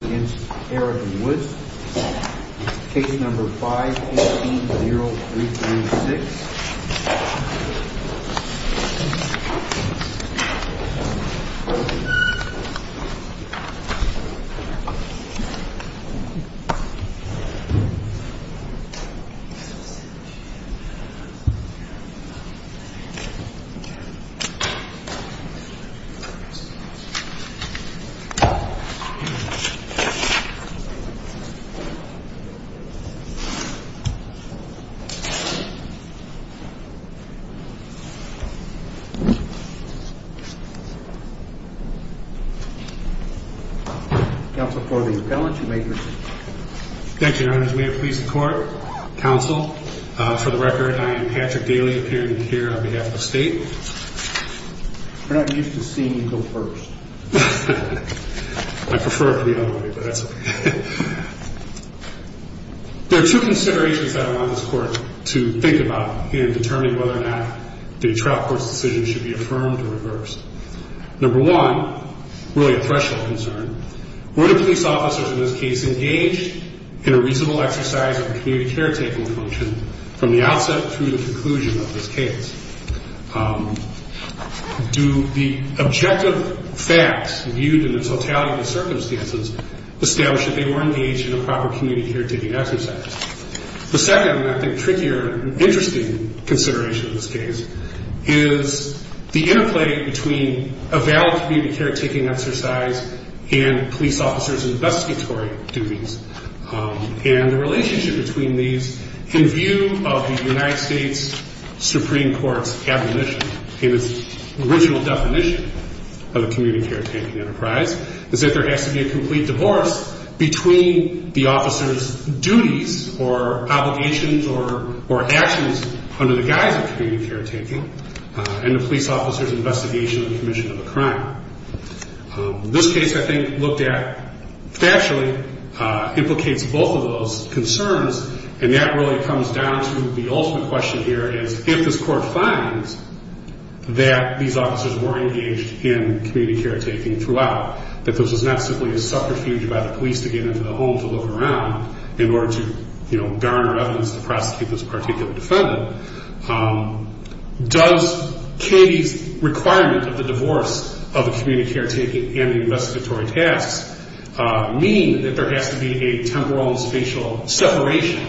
against Eric Woods, case number 518-0336. And I'm going to call the roll on this one. Council for the appellant, you may proceed. Thank you, Your Honor. As may it please the Court, counsel, for the record, I am Patrick Daly, appearing here on behalf of the state. We're not used to seeing you go first. I prefer it the other way, but that's okay. There are two considerations that I want this Court to think about in determining whether or not the trial court's decision should be affirmed or reversed. Number one, really a threshold concern, were the police officers in this case engaged in a reasonable exercise of the community caretaking function from the outset through the conclusion of this case? Do the objective facts viewed in the totality of the circumstances establish that they were engaged in a proper community caretaking exercise? The second, and I think trickier, interesting consideration in this case is the interplay between a valid community caretaking exercise and police officers' investigatory duties and the relationship between these in view of the United States Supreme Court's admonition in its original definition of a community caretaking enterprise is that there has to be a complete divorce between the officers' duties or obligations or actions under the guise of community caretaking and the police officers' investigation of the commission of a crime. This case, I think, looked at factually implicates both of those concerns, and that really comes down to the ultimate question here is if this Court finds that these officers were engaged in community caretaking throughout, that this was not simply a subterfuge by the police to get into the home to look around in order to, you know, garner evidence to prosecute this particular defendant, does Katie's requirement of the divorce of the community caretaking and the investigatory tasks mean that there has to be a temporal and spatial separation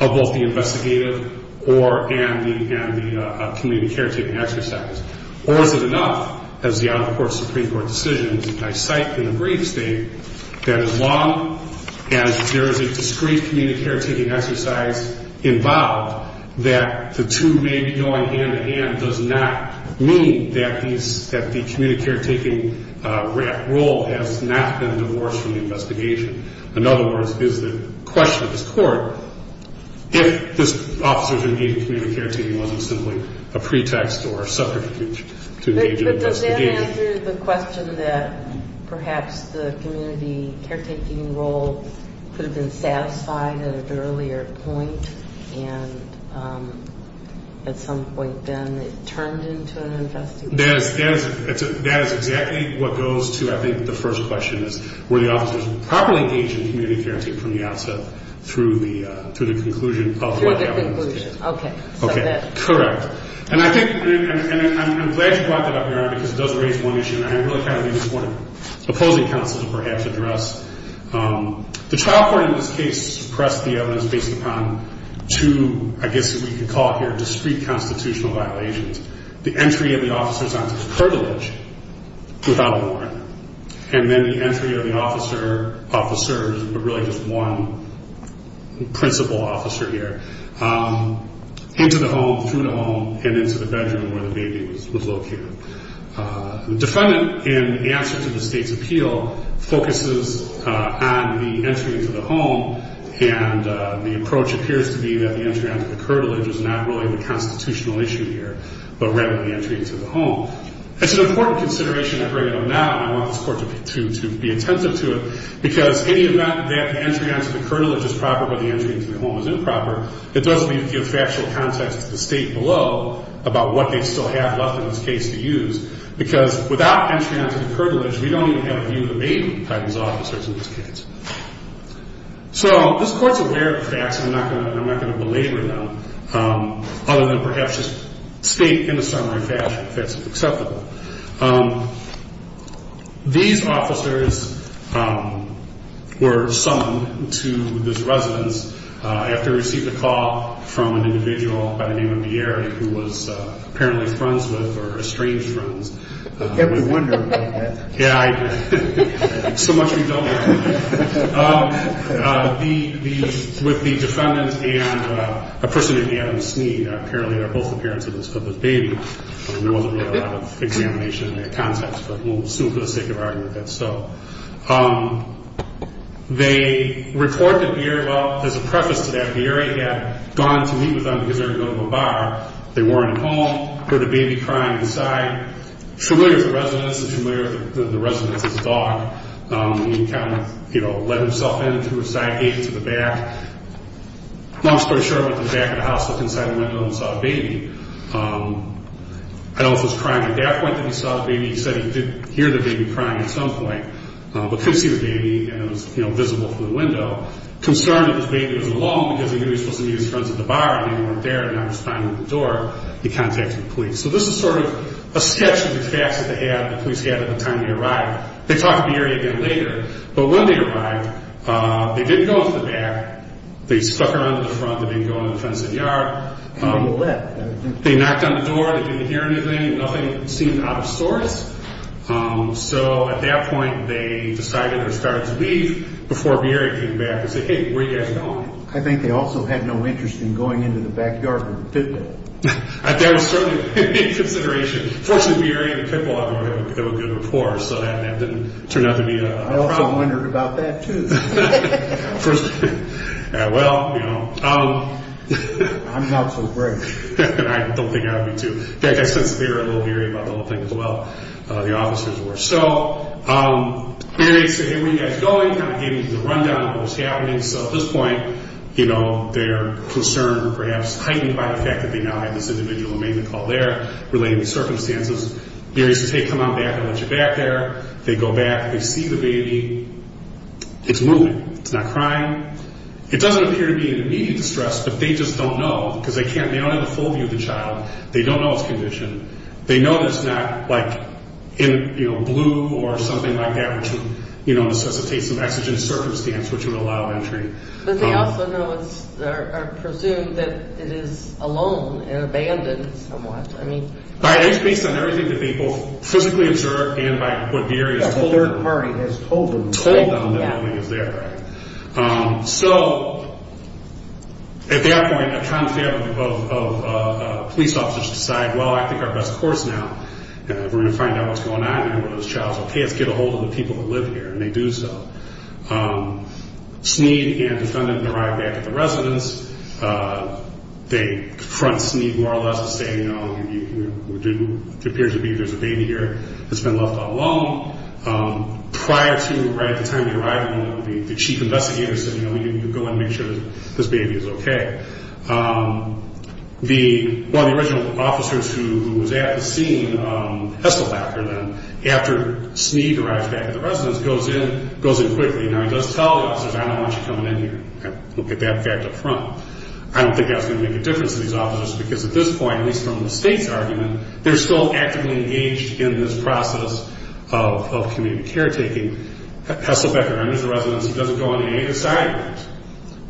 of both the investigative and the community caretaking exercise, or is it enough, as the out-of-court Supreme Court decisions, and I cite in the brief state, that as long as there is a discreet community caretaking exercise involved, that the two may be going hand-in-hand does not mean that the community caretaking role has not been divorced from the investigation. In other words, is the question of this Court, if this officer is engaged in community caretaking wasn't simply a pretext or a subterfuge to engage in investigation. Does that answer the question that perhaps the community caretaking role could have been satisfied at an earlier point and at some point then it turned into an investigation? That is exactly what goes to, I think, the first question is were the officers properly engaged in community caretaking from the outset through the conclusion of what happened in those cases. Through the conclusion, okay. Okay, correct. And I think, and I'm glad you brought that up, Your Honor, because it does raise one issue, and I really kind of need one opposing counsel to perhaps address. The trial court in this case pressed the evidence based upon two, I guess we could call it here, discreet constitutional violations. The entry of the officers onto the pergolage without a warrant, and then the entry of the home and into the bedroom where the baby was located. The defendant, in answer to the State's appeal, focuses on the entry into the home, and the approach appears to be that the entry onto the pergolage is not really the constitutional issue here, but rather the entry into the home. It's an important consideration I bring it up now, and I want this Court to be attentive to it, because any event that the entry onto the pergolage is proper but the entry into the home is improper, it does leave the factual context to the State below about what they still have left in this case to use, because without entry onto the pergolage, we don't even have a view of the baby by these officers in this case. So this Court's aware of the facts, and I'm not going to belabor them, other than perhaps just state in a summary fashion that's acceptable. These officers were summoned to this residence after receiving a call from an individual by the name of Bieri, who was apparently friends with, or estranged friends. Yeah, we wonder about that. Yeah, so much we don't know. With the defendant and a person named Adam Snead, apparently they're both the parents There wasn't really a lot of examination in that context, but we'll assume for the sake of argument that's so. They report that Bieri, well, there's a preface to that. Bieri had gone to meet with them because they were going to a bar. They weren't at home, heard a baby crying inside. Familiar with the residence, he's familiar with the residence's dog. He kind of, you know, let himself in through a side gate to the back. Long story short, went to the back of the house, looked inside the window, and saw a baby. I don't know if it was crying at that point that he saw the baby. He said he did hear the baby crying at some point, but couldn't see the baby, and it was, you know, visible through the window. Concerned that this baby was alone because he knew he was supposed to meet his friends at the bar, and they weren't there, and now he was crying at the door, he contacted the police. So this is sort of a sketch of the facts that the police had at the time they arrived. They talked to Bieri again later, but when they arrived, they didn't go into the back. They stuck around to the front. They didn't go into the fenced-in yard. They knocked on the door. They didn't hear anything. Nothing seemed out of sorts. So at that point, they decided they were starting to leave before Bieri came back and said, hey, where are you guys going? I think they also had no interest in going into the backyard for the pit bull. That was certainly a consideration. Fortunately, Bieri and the pit bull have a good rapport, so that didn't turn out to be a problem. I also wondered about that, too. Well, you know. I'm not so brave. I don't think I would be, too. In fact, I sensed that Bieri was a little weary about the whole thing as well, the officers were. So they said, hey, where are you guys going? Kind of gave me the rundown of what was happening. So at this point, you know, they're concerned or perhaps heightened by the fact that they now had this individual who made the call there relating to circumstances. Bieri says, hey, come on back. I'll let you back there. They go back. They see the baby. It's moving. It's not crying. It doesn't appear to be in immediate distress, but they just don't know because they can't. They don't have a full view of the child. They don't know its condition. They know that it's not, like, in, you know, blue or something like that which would, you know, necessitate some exigent circumstance which would allow entry. But they also know or presume that it is alone and abandoned somewhat. I mean. It speaks on everything that people physically observe and by what Bieri has told them. The third party has told them. Told them that it is there, right. So at that point, a confound of police officers decide, well, I think our best course now, we're going to find out what's going on and where those childs are. Let's get a hold of the people who live here. And they do so. Sneed and defendant arrive back at the residence. They confront Sneed more or less and say, you know, it appears to be there's a baby here that's been left all alone. Prior to, right at the time of the arrival, the chief investigator said, you know, we need to go in and make sure this baby is okay. One of the original officers who was at the scene, Hesselbacher then, after Sneed arrives back at the residence, goes in quickly. Now, he does tell the officers, I don't want you coming in here. Look at that fact up front. I don't think that's going to make a difference to these officers because at this point, at least from the state's argument, they're still actively engaged in this process of community caretaking. Hesselbacher enters the residence. He doesn't go on any of the side routes.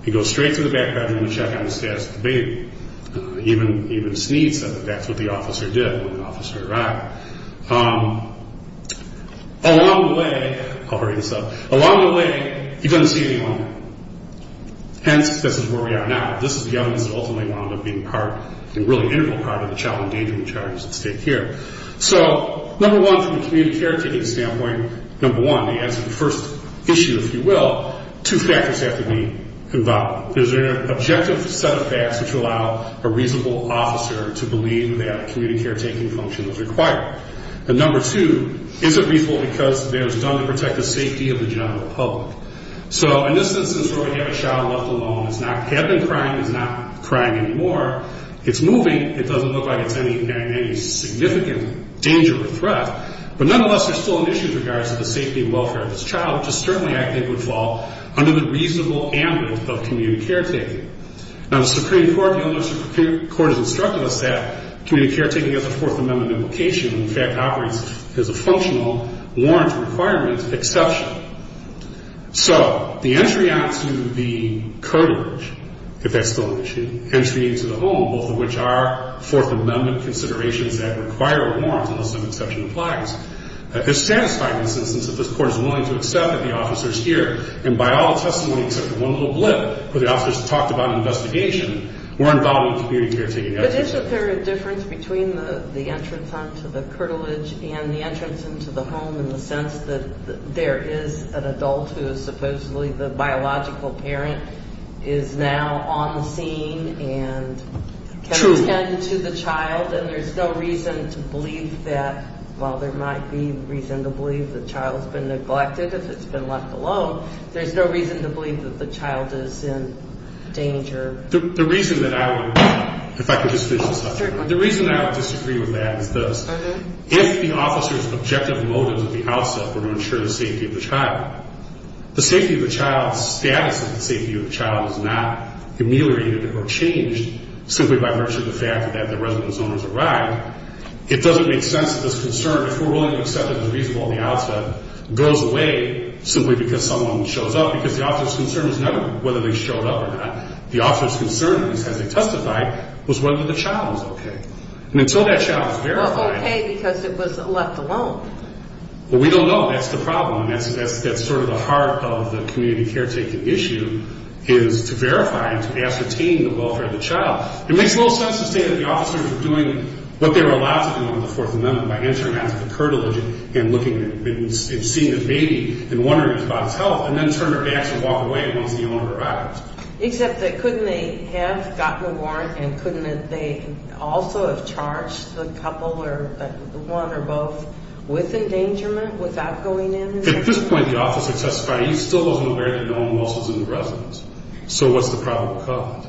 He goes straight to the back bedroom to check on the status of the baby. Even Sneed said that's what the officer did when the officer arrived. Along the way, I'll hurry this up, along the way, he doesn't see anyone. Hence, this is where we are now. This is the evidence that ultimately wound up being part, a really integral part of the child endangerment charges at state care. So, number one, from a community caretaking standpoint, number one, the answer to the first issue, if you will, two factors have to be involved. There's an objective set of facts which allow a reasonable officer to believe that community caretaking function is required. And number two, is it reasonable because it was done to protect the safety of the general public? So, in this instance where we have a child left alone, it's not had been crying, it's not crying anymore, it's moving. It doesn't look like it's in any significant danger or threat. But nonetheless, there's still an issue in regards to the safety and welfare of this child, which is certainly, I think, would fall under the reasonable ambit of community caretaking. Now, the Supreme Court, the Illinois Supreme Court, has instructed us that community caretaking has a Fourth Amendment invocation and, in fact, operates as a functional warrant requirement exception. So, the entry onto the courtage, if that's still an issue, entry into the home, both of which are Fourth Amendment considerations that require a warrant unless an exception applies, is satisfying in the sense that this Court is willing to accept that the officer is here. And by all the testimony except for one little blip where the officer's talked about an investigation, we're involved in community caretaking efforts. But isn't there a difference between the entrance onto the courtage and the entrance into the home in the sense that there is an adult who is supposedly the biological parent, is now on the scene and can attend to the child, and there's no reason to believe that, while there might be reason to believe the child has been neglected if it's been left alone, there's no reason to believe that the child is in danger? The reason that I would, if I could just finish this up, the reason I would disagree with that is this. If the officer's objective motives at the outset were to ensure the safety of the child, the safety of the child's status and the safety of the child is not ameliorated or changed simply by virtue of the fact that the residence owner has arrived, it doesn't make sense that this concern, if we're willing to accept it as reasonable at the outset, goes away simply because someone shows up. Because the officer's concern is not whether they showed up or not. The officer's concern, as they testified, was whether the child was okay. And until that child was verified... Well, okay because it was left alone. Well, we don't know. That's the problem. And that's sort of the heart of the community caretaking issue is to verify and to ascertain the welfare of the child. It makes no sense to say that the officers were doing what they were allowed to do in the Fourth Amendment by entering onto the curtilage and seeing the baby and wondering about its health and then turn their backs and walk away once the owner arrives. Except that couldn't they have gotten a warrant and couldn't they also have charged the couple or one or both with endangerment without going in? At this point, the officer testified he still wasn't aware that no one else was in the residence. So what's the probable cause?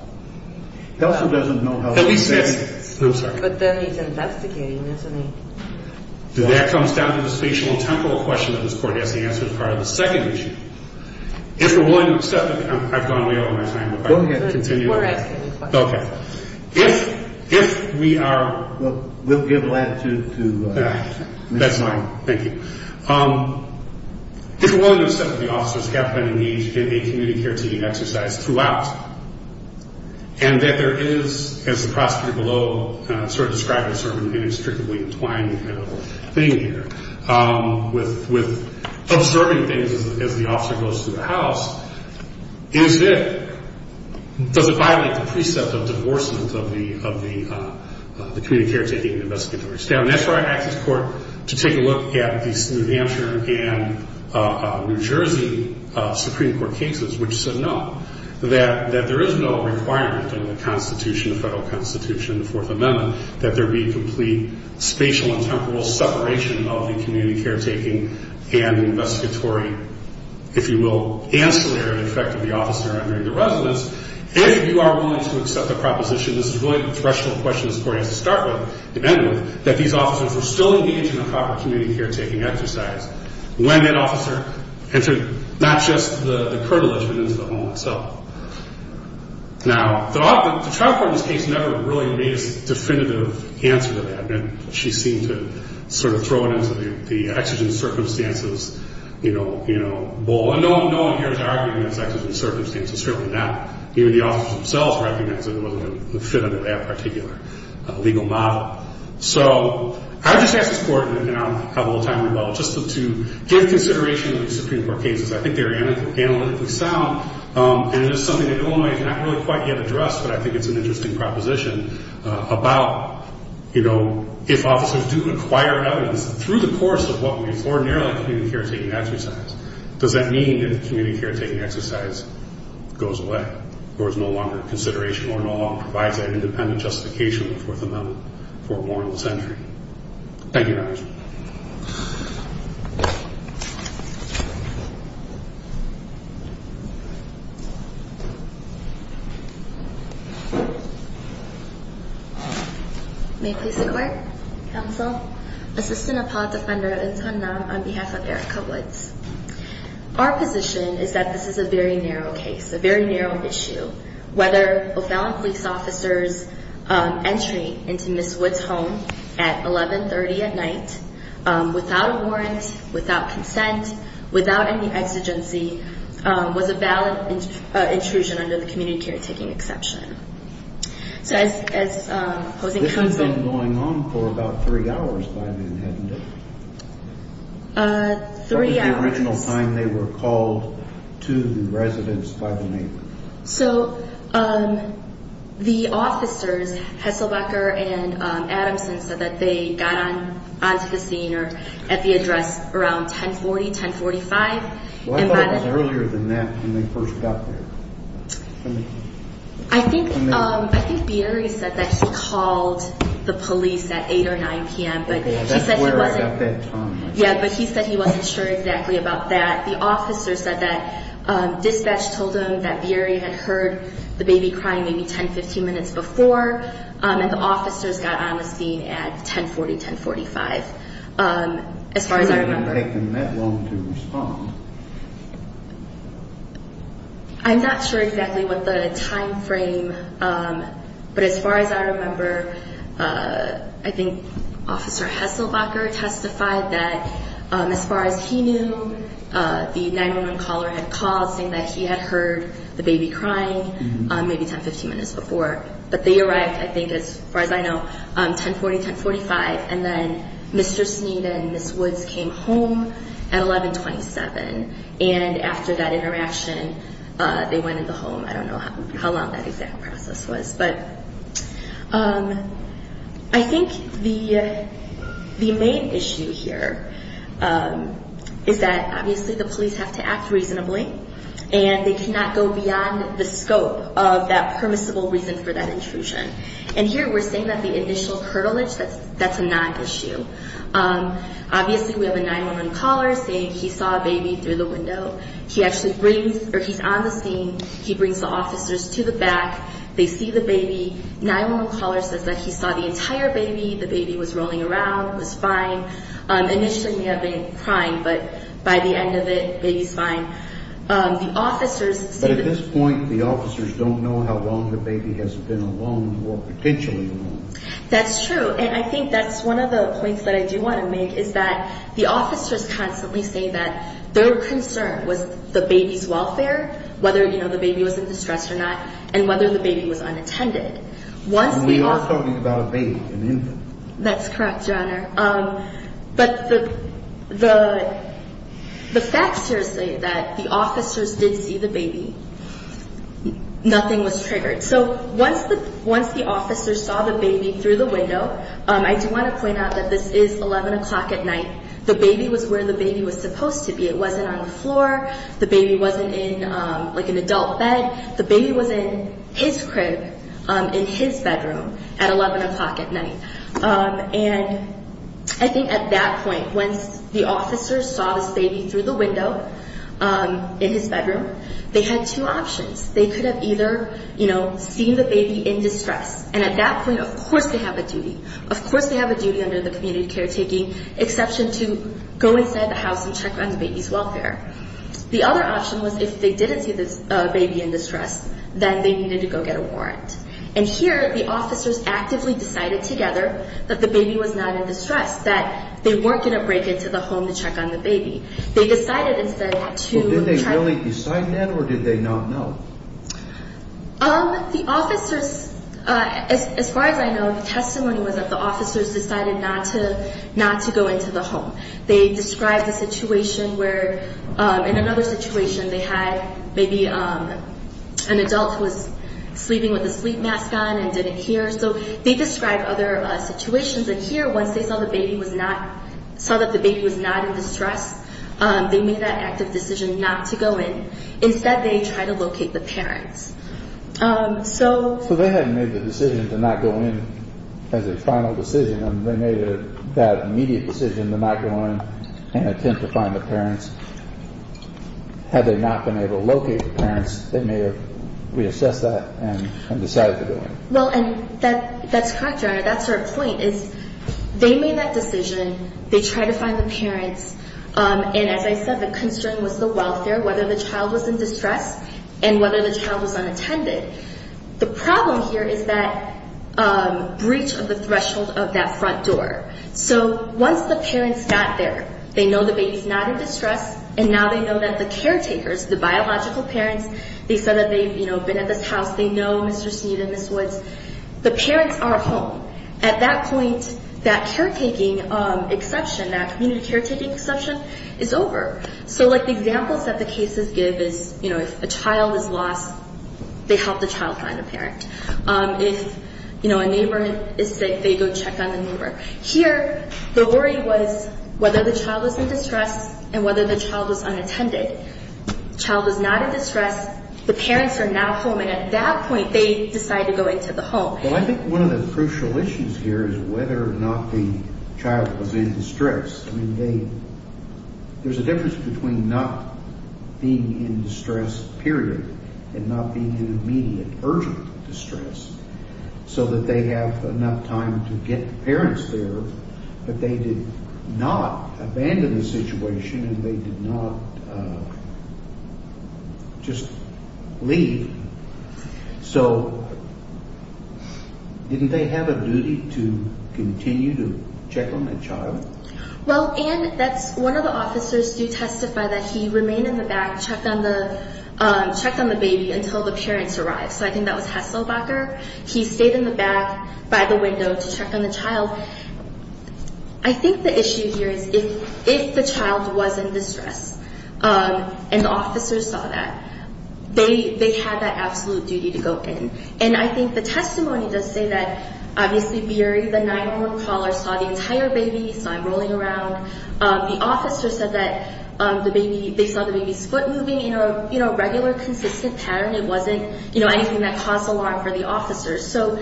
He also doesn't know how to investigate. I'm sorry. But then he's investigating, isn't he? That comes down to the spatial and temporal question that this Court has to answer as part of the second issue. If we're willing to accept... I've gone way over my time. Go ahead. Continue. Okay. If we are... We'll give latitude to... That's fine. Thank you. If we're willing to accept that the officers have been engaged in a community caretaking exercise throughout and that there is, as the prosecutor below sort of described in a sermon, in a strictly entwined thing here with observing things as the officer goes through the house, is it... Does it violate the precept of divorcement of the community caretaking and investigatory staff? And that's why I asked this Court to take a look at the New Hampshire and New Jersey Supreme Court cases which said no, that there is no requirement in the Constitution, the federal Constitution, the Fourth Amendment, that there be complete spatial and temporal separation of the community caretaking and investigatory, if you will, ancillary effect of the officer entering the residence. If you are willing to accept the proposition, this is really the threshold question this Court has to start with and end with, that these officers were still engaged in a proper community caretaking exercise when that officer entered not just the curtilage but into the home itself. Now, the trial court in this case never really made a definitive answer to that. She seemed to sort of throw it into the exigent circumstances, you know, bowl. And no one here is arguing that it's exigent circumstances, certainly not. Even the officers themselves recognize that it wasn't a definitive and particular legal model. So I just asked this Court, and I don't have all the time in the world, just to give consideration to the Supreme Court cases. I think they are analytically sound, and it is something that Illinois has not really quite yet addressed, but I think it's an interesting proposition about, you know, if officers do acquire evidence through the course of what would be ordinarily a community caretaking exercise, does that mean that the community caretaking exercise goes away or is no longer a consideration or no longer provides an independent justification in the Fourth Amendment for a warrantless entry? Thank you, Your Honor. May it please the Court. Counsel. Assistant Apollo Defender, Eun Sun Nam, on behalf of Erica Woods. Our position is that this is a very narrow case, a very narrow issue. Whether a felon police officer's entry into Ms. Woods' home at 1130 at night, without a warrant, without consent, without any exigency, was a valid intrusion under the community caretaking exception. So as opposing counsel- This had been going on for about three hours by then, hadn't it? Three hours. What was the original time they were called to the residence by the neighbor? So the officers, Hesselbecker and Adamson, said that they got onto the scene or at the address around 1040, 1045. Well, I thought it was earlier than that when they first got there. I think Bieri said that he called the police at 8 or 9 p.m. That's where I got that time. Yeah, but he said he wasn't sure exactly about that. The officer said that dispatch told him that Bieri had heard the baby crying maybe 10, 15 minutes before, and the officers got on the scene at 1040, 1045. He didn't take them that long to respond. I'm not sure exactly what the time frame, but as far as I remember, I think Officer Hesselbecker testified that as far as he knew, the 911 caller had called saying that he had heard the baby crying maybe 10, 15 minutes before. But they arrived, I think, as far as I know, 1040, 1045, and then Mr. Sneed and Ms. Woods came home at 1127. And after that interaction, they went into the home. I don't know how long that exact process was. But I think the main issue here is that, obviously, the police have to act reasonably, and they cannot go beyond the scope of that permissible reason for that intrusion. And here we're saying that the initial curtilage, that's a non-issue. Obviously, we have a 911 caller saying he saw a baby through the window. He's on the scene. He brings the officers to the back. They see the baby. 911 caller says that he saw the entire baby. The baby was rolling around. It was fine. Initially, he may have been crying, but by the end of it, baby's fine. But at this point, the officers don't know how long the baby has been alone or potentially alone. That's true. And I think that's one of the points that I do want to make, is that the officers constantly say that their concern was the baby's welfare, whether the baby was in distress or not, and whether the baby was unattended. And we are talking about a baby, an infant. That's correct, Your Honor. But the facts here say that the officers did see the baby. Nothing was triggered. So once the officers saw the baby through the window, I do want to point out that this is 11 o'clock at night. The baby was where the baby was supposed to be. It wasn't on the floor. The baby wasn't in, like, an adult bed. The baby was in his crib in his bedroom at 11 o'clock at night. And I think at that point, once the officers saw this baby through the window in his bedroom, they had two options. They could have either, you know, seen the baby in distress. And at that point, of course they have a duty. Of course they have a duty under the community caretaking exception to go inside the house and check on the baby's welfare. The other option was if they didn't see the baby in distress, then they needed to go get a warrant. And here, the officers actively decided together that the baby was not in distress, that they weren't going to break into the home to check on the baby. They decided instead to try. Well, did they really decide that, or did they not know? The officers, as far as I know, the testimony was that the officers decided not to go into the home. They described a situation where, in another situation, they had maybe an adult who was sleeping with a sleep mask on and didn't hear. So they described other situations. And here, once they saw that the baby was not in distress, they made that active decision not to go in. Instead, they tried to locate the parents. So they hadn't made the decision to not go in as a final decision. They made that immediate decision to not go in and attempt to find the parents. Had they not been able to locate the parents, they may have reassessed that and decided to go in. Well, that's correct, Your Honor. That's our point, is they made that decision. They tried to find the parents. And as I said, the concern was the welfare, whether the child was in distress and whether the child was unattended. The problem here is that breach of the threshold of that front door. So once the parents got there, they know the baby's not in distress, and now they know that the caretakers, the biological parents, they said that they've been at this house, they know Mr. Snead and Ms. Woods. The parents are home. At that point, that caretaking exception, that community caretaking exception is over. So, like, the examples that the cases give is, you know, if a child is lost, they help the child find a parent. If, you know, a neighbor is sick, they go check on the neighbor. Here, the worry was whether the child was in distress and whether the child was unattended. The child is not in distress. The parents are now home. And at that point, they decide to go into the home. Well, I think one of the crucial issues here is whether or not the child was in distress. I mean, they – there's a difference between not being in distress, period, and not being in immediate, urgent distress so that they have enough time to get the parents there, but they did not abandon the situation and they did not just leave. So didn't they have a duty to continue to check on the child? Well, and that's – one of the officers did testify that he remained in the back, checked on the baby until the parents arrived. So I think that was Hesselbacher. He stayed in the back by the window to check on the child. I think the issue here is if the child was in distress and the officers saw that, they had that absolute duty to go in. And I think the testimony does say that, obviously, Barry, the 911 caller, saw the entire baby, saw him rolling around. The officer said that the baby – they saw the baby's foot moving in a regular, consistent pattern. It wasn't anything that caused alarm for the officers. So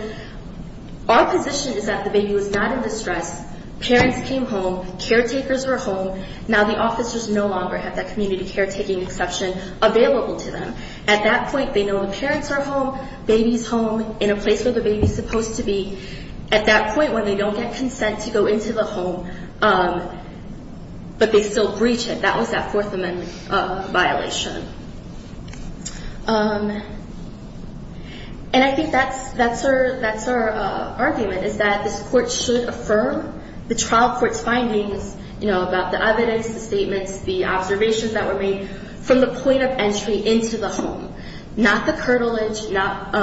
our position is that the baby was not in distress. Parents came home. Caretakers were home. Now the officers no longer have that community caretaking exception available to them. At that point, they know the parents are home, baby's home, in a place where the baby's supposed to be. At that point, when they don't get consent to go into the home, but they still breach it, that was that Fourth Amendment violation. And I think that's our argument, is that this court should affirm the trial court's findings, you know, about the evidence, the statements, the observations that were made from the point of entry into the home. Not the curtilage, not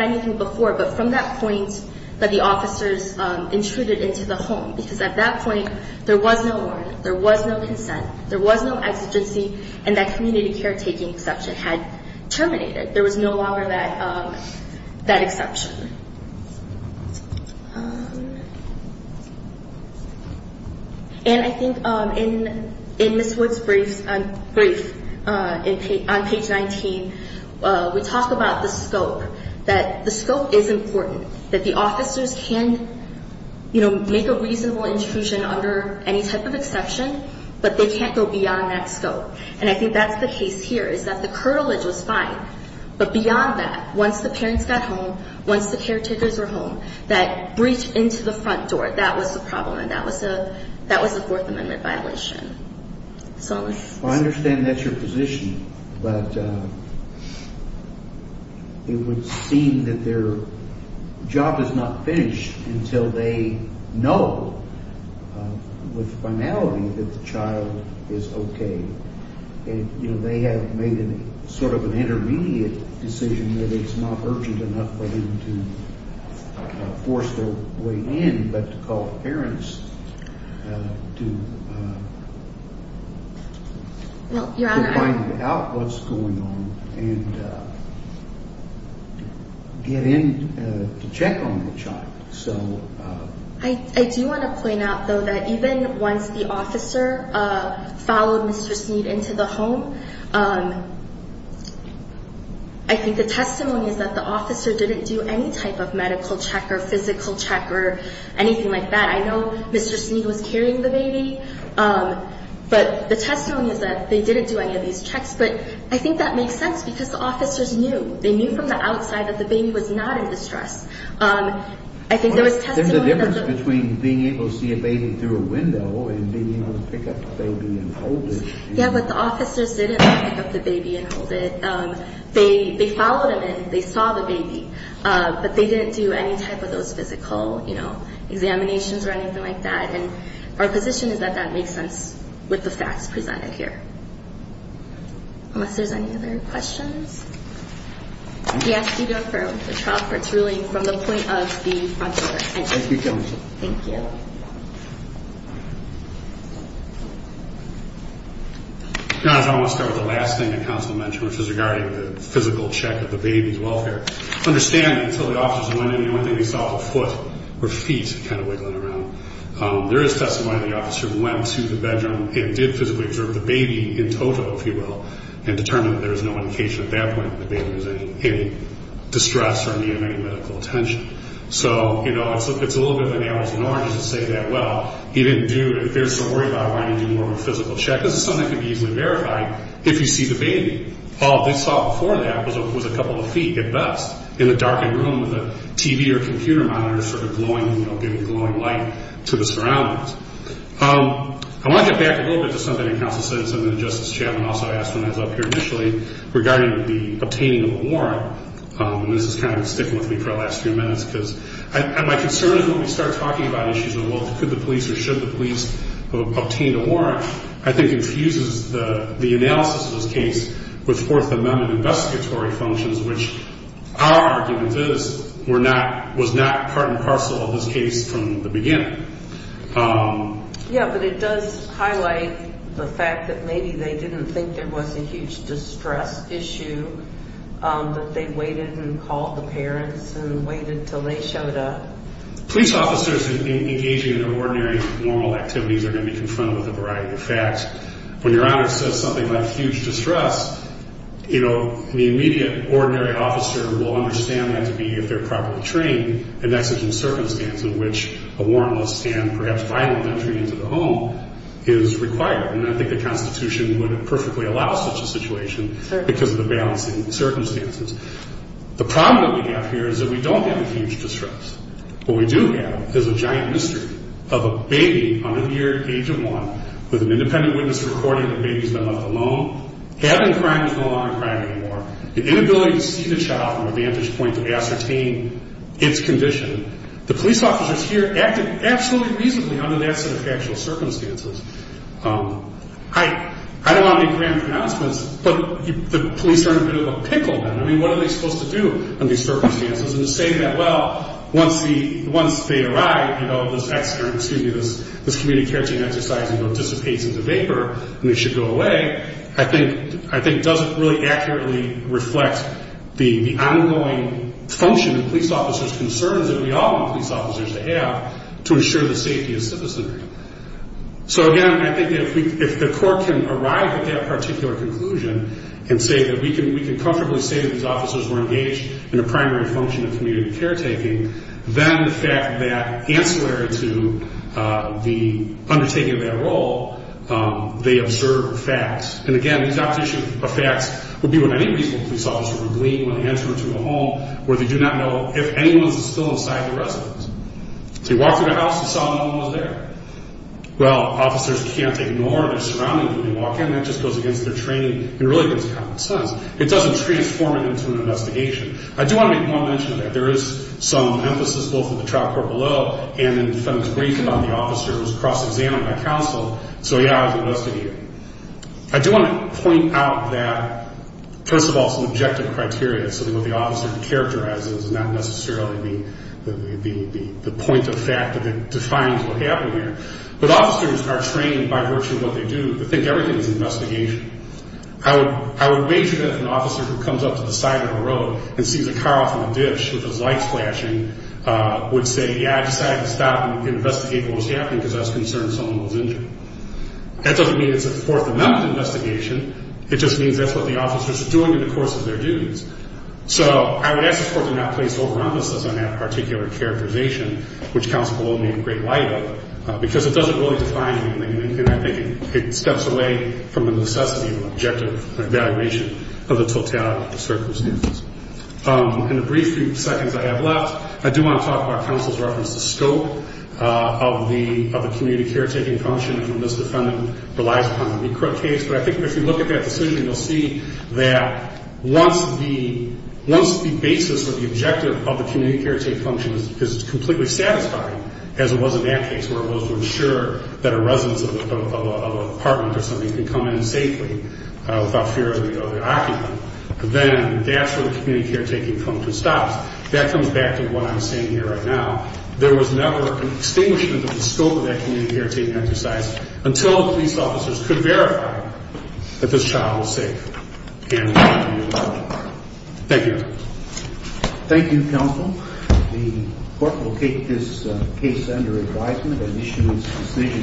anything before, but from that point that the officers intruded into the home. Because at that point, there was no warrant, there was no consent, there was no exigency, and that community caretaking exception had terminated. There was no longer that exception. And I think in Ms. Wood's brief on page 19, we talk about the scope, that the scope is important, that the officers can, you know, make a reasonable intrusion under any type of exception, but they can't go beyond that scope. And I think that's the case here, is that the curtilage was fine, but beyond that, once the parents got home, once the caretakers were home, that breach into the front door, that was the problem, and that was a Fourth Amendment violation. So let's... I understand that's your position, but it would seem that their job is not finished until they know with finality that the child is okay. And, you know, they have made sort of an intermediate decision that it's not urgent enough for them to force their way in, but to call the parents to find out what's going on and get in to check on the child. So... I do want to point out, though, that even once the officer followed Mr. Sneed into the home, I think the testimony is that the officer didn't do any type of medical check or physical check or anything like that. I know Mr. Sneed was carrying the baby, but the testimony is that they didn't do any of these checks. But I think that makes sense because the officers knew. They knew from the outside that the baby was not in distress. I think there was testimony that the... There's a difference between being able to see a baby through a window and being able to pick up the baby and hold it. Yeah, but the officers didn't pick up the baby and hold it. They followed him in. They saw the baby. But they didn't do any type of those physical, you know, examinations or anything like that. And our position is that that makes sense with the facts presented here. Unless there's any other questions. Yes, you go for the child. It's really from the point of the front door. Thank you. Thank you. Guys, I want to start with the last thing the counsel mentioned, which is regarding the physical check of the baby's welfare. Understanding, until the officers went in, the only thing they saw was a foot or feet kind of wiggling around. There is testimony of the officer who went to the bedroom and did physically observe the baby in total, if you will, and determined that there was no indication at that point that the baby was in distress or needing any medical attention. So, you know, it's a little bit of an hours and hours to say that. Well, he didn't do it. There's no worry about wanting to do more of a physical check. This is something that can be easily verified if you see the baby. All they saw before that was a couple of feet, at best, in the darkened room with a TV or computer monitor sort of glowing, you know, giving glowing light to the surroundings. I want to get back a little bit to something that counsel said and something that Justice Chapman also asked when I was up here initially regarding the obtaining of a warrant. And this is kind of sticking with me for the last few minutes because my concern is when we start talking about issues of, well, could the police or should the police have obtained a warrant, I think infuses the analysis of this case with Fourth Amendment investigatory functions, which our argument is was not part and parcel of this case from the beginning. Yeah, but it does highlight the fact that maybe they didn't think there was a huge distress issue, that they waited and called the parents and waited until they showed up. Police officers engaging in ordinary, normal activities are going to be confronted with a variety of facts. When Your Honor says something like huge distress, you know, the immediate ordinary officer will understand that to be, if they're properly trained, an exigent circumstance in which a warrantless and perhaps violent entry into the home is required. And I think the Constitution would perfectly allow such a situation because of the balancing circumstances. The problem that we have here is that we don't have a huge distress. What we do have is a giant mystery of a baby under the age of one with an independent witness reporting the baby's been left alone, having crime but no longer crime anymore, the inability to see the child from a vantage point to ascertain its condition. The police officers here acted absolutely reasonably under that set of factual circumstances. I don't want to make grand pronouncements, but the police are in a bit of a pickle now. I mean, what are they supposed to do under these circumstances? And to say that, well, once they arrive, you know, this community care team exercise, you know, dissipates into vapor and they should go away, I think doesn't really accurately reflect the ongoing function of police officers' concerns that we all want police officers to have to ensure the safety of citizens. So, again, I think if the court can arrive at that particular conclusion and say that we can comfortably say that these officers were engaged in a primary function of community care taking, then the fact that ancillary to the undertaking of that role, they observe facts. And, again, these observations of facts would be what any reasonable police officer would believe when they enter into a home where they do not know if anyone is still inside the residence. So you walk through the house and saw no one was there. Well, officers can't ignore their surroundings when they walk in. That just goes against their training and really goes against common sense. It doesn't transform it into an investigation. I do want to make one mention of that. There is some emphasis both in the trial court below and in the defendant's briefing on the officer who was cross-examined by counsel. So, yeah, I was investigating. I do want to point out that, first of all, some objective criteria, something that the officer characterizes and not necessarily the point of fact that defines what happened here. But officers are trained by virtue of what they do to think everything is an investigation. I would measure that if an officer who comes up to the side of the road and sees a car off on a ditch with those lights flashing would say, yeah, I decided to stop and investigate what was happening because I was concerned someone was injured. That doesn't mean it's a fourth amendment investigation. It just means that's what the officers are doing in the course of their duties. So I would ask the court to not place over-emphasis on that particular characterization, which counsel below made great light of, because it doesn't really define anything. And I think it steps away from the necessity of objective evaluation of the totality of the circumstances. In the brief few seconds I have left, I do want to talk about counsel's reference to scope of the community caretaking function. And this, defendant, relies upon the recruit case. But I think if you look at that decision, you'll see that once the basis or the objective of the community caretaking function is completely satisfied, as it was in that case where it was to ensure that a resident of an apartment or something can come in safely without fear of the occupant, then that's where the community caretaking function stops. That comes back to what I'm saying here right now. There was never an extinguishment of the scope of that community caretaking exercise until the police officers could verify that this child was safe in the apartment. Thank you. Thank you, counsel. The court will take this case under advisement and issue its decision.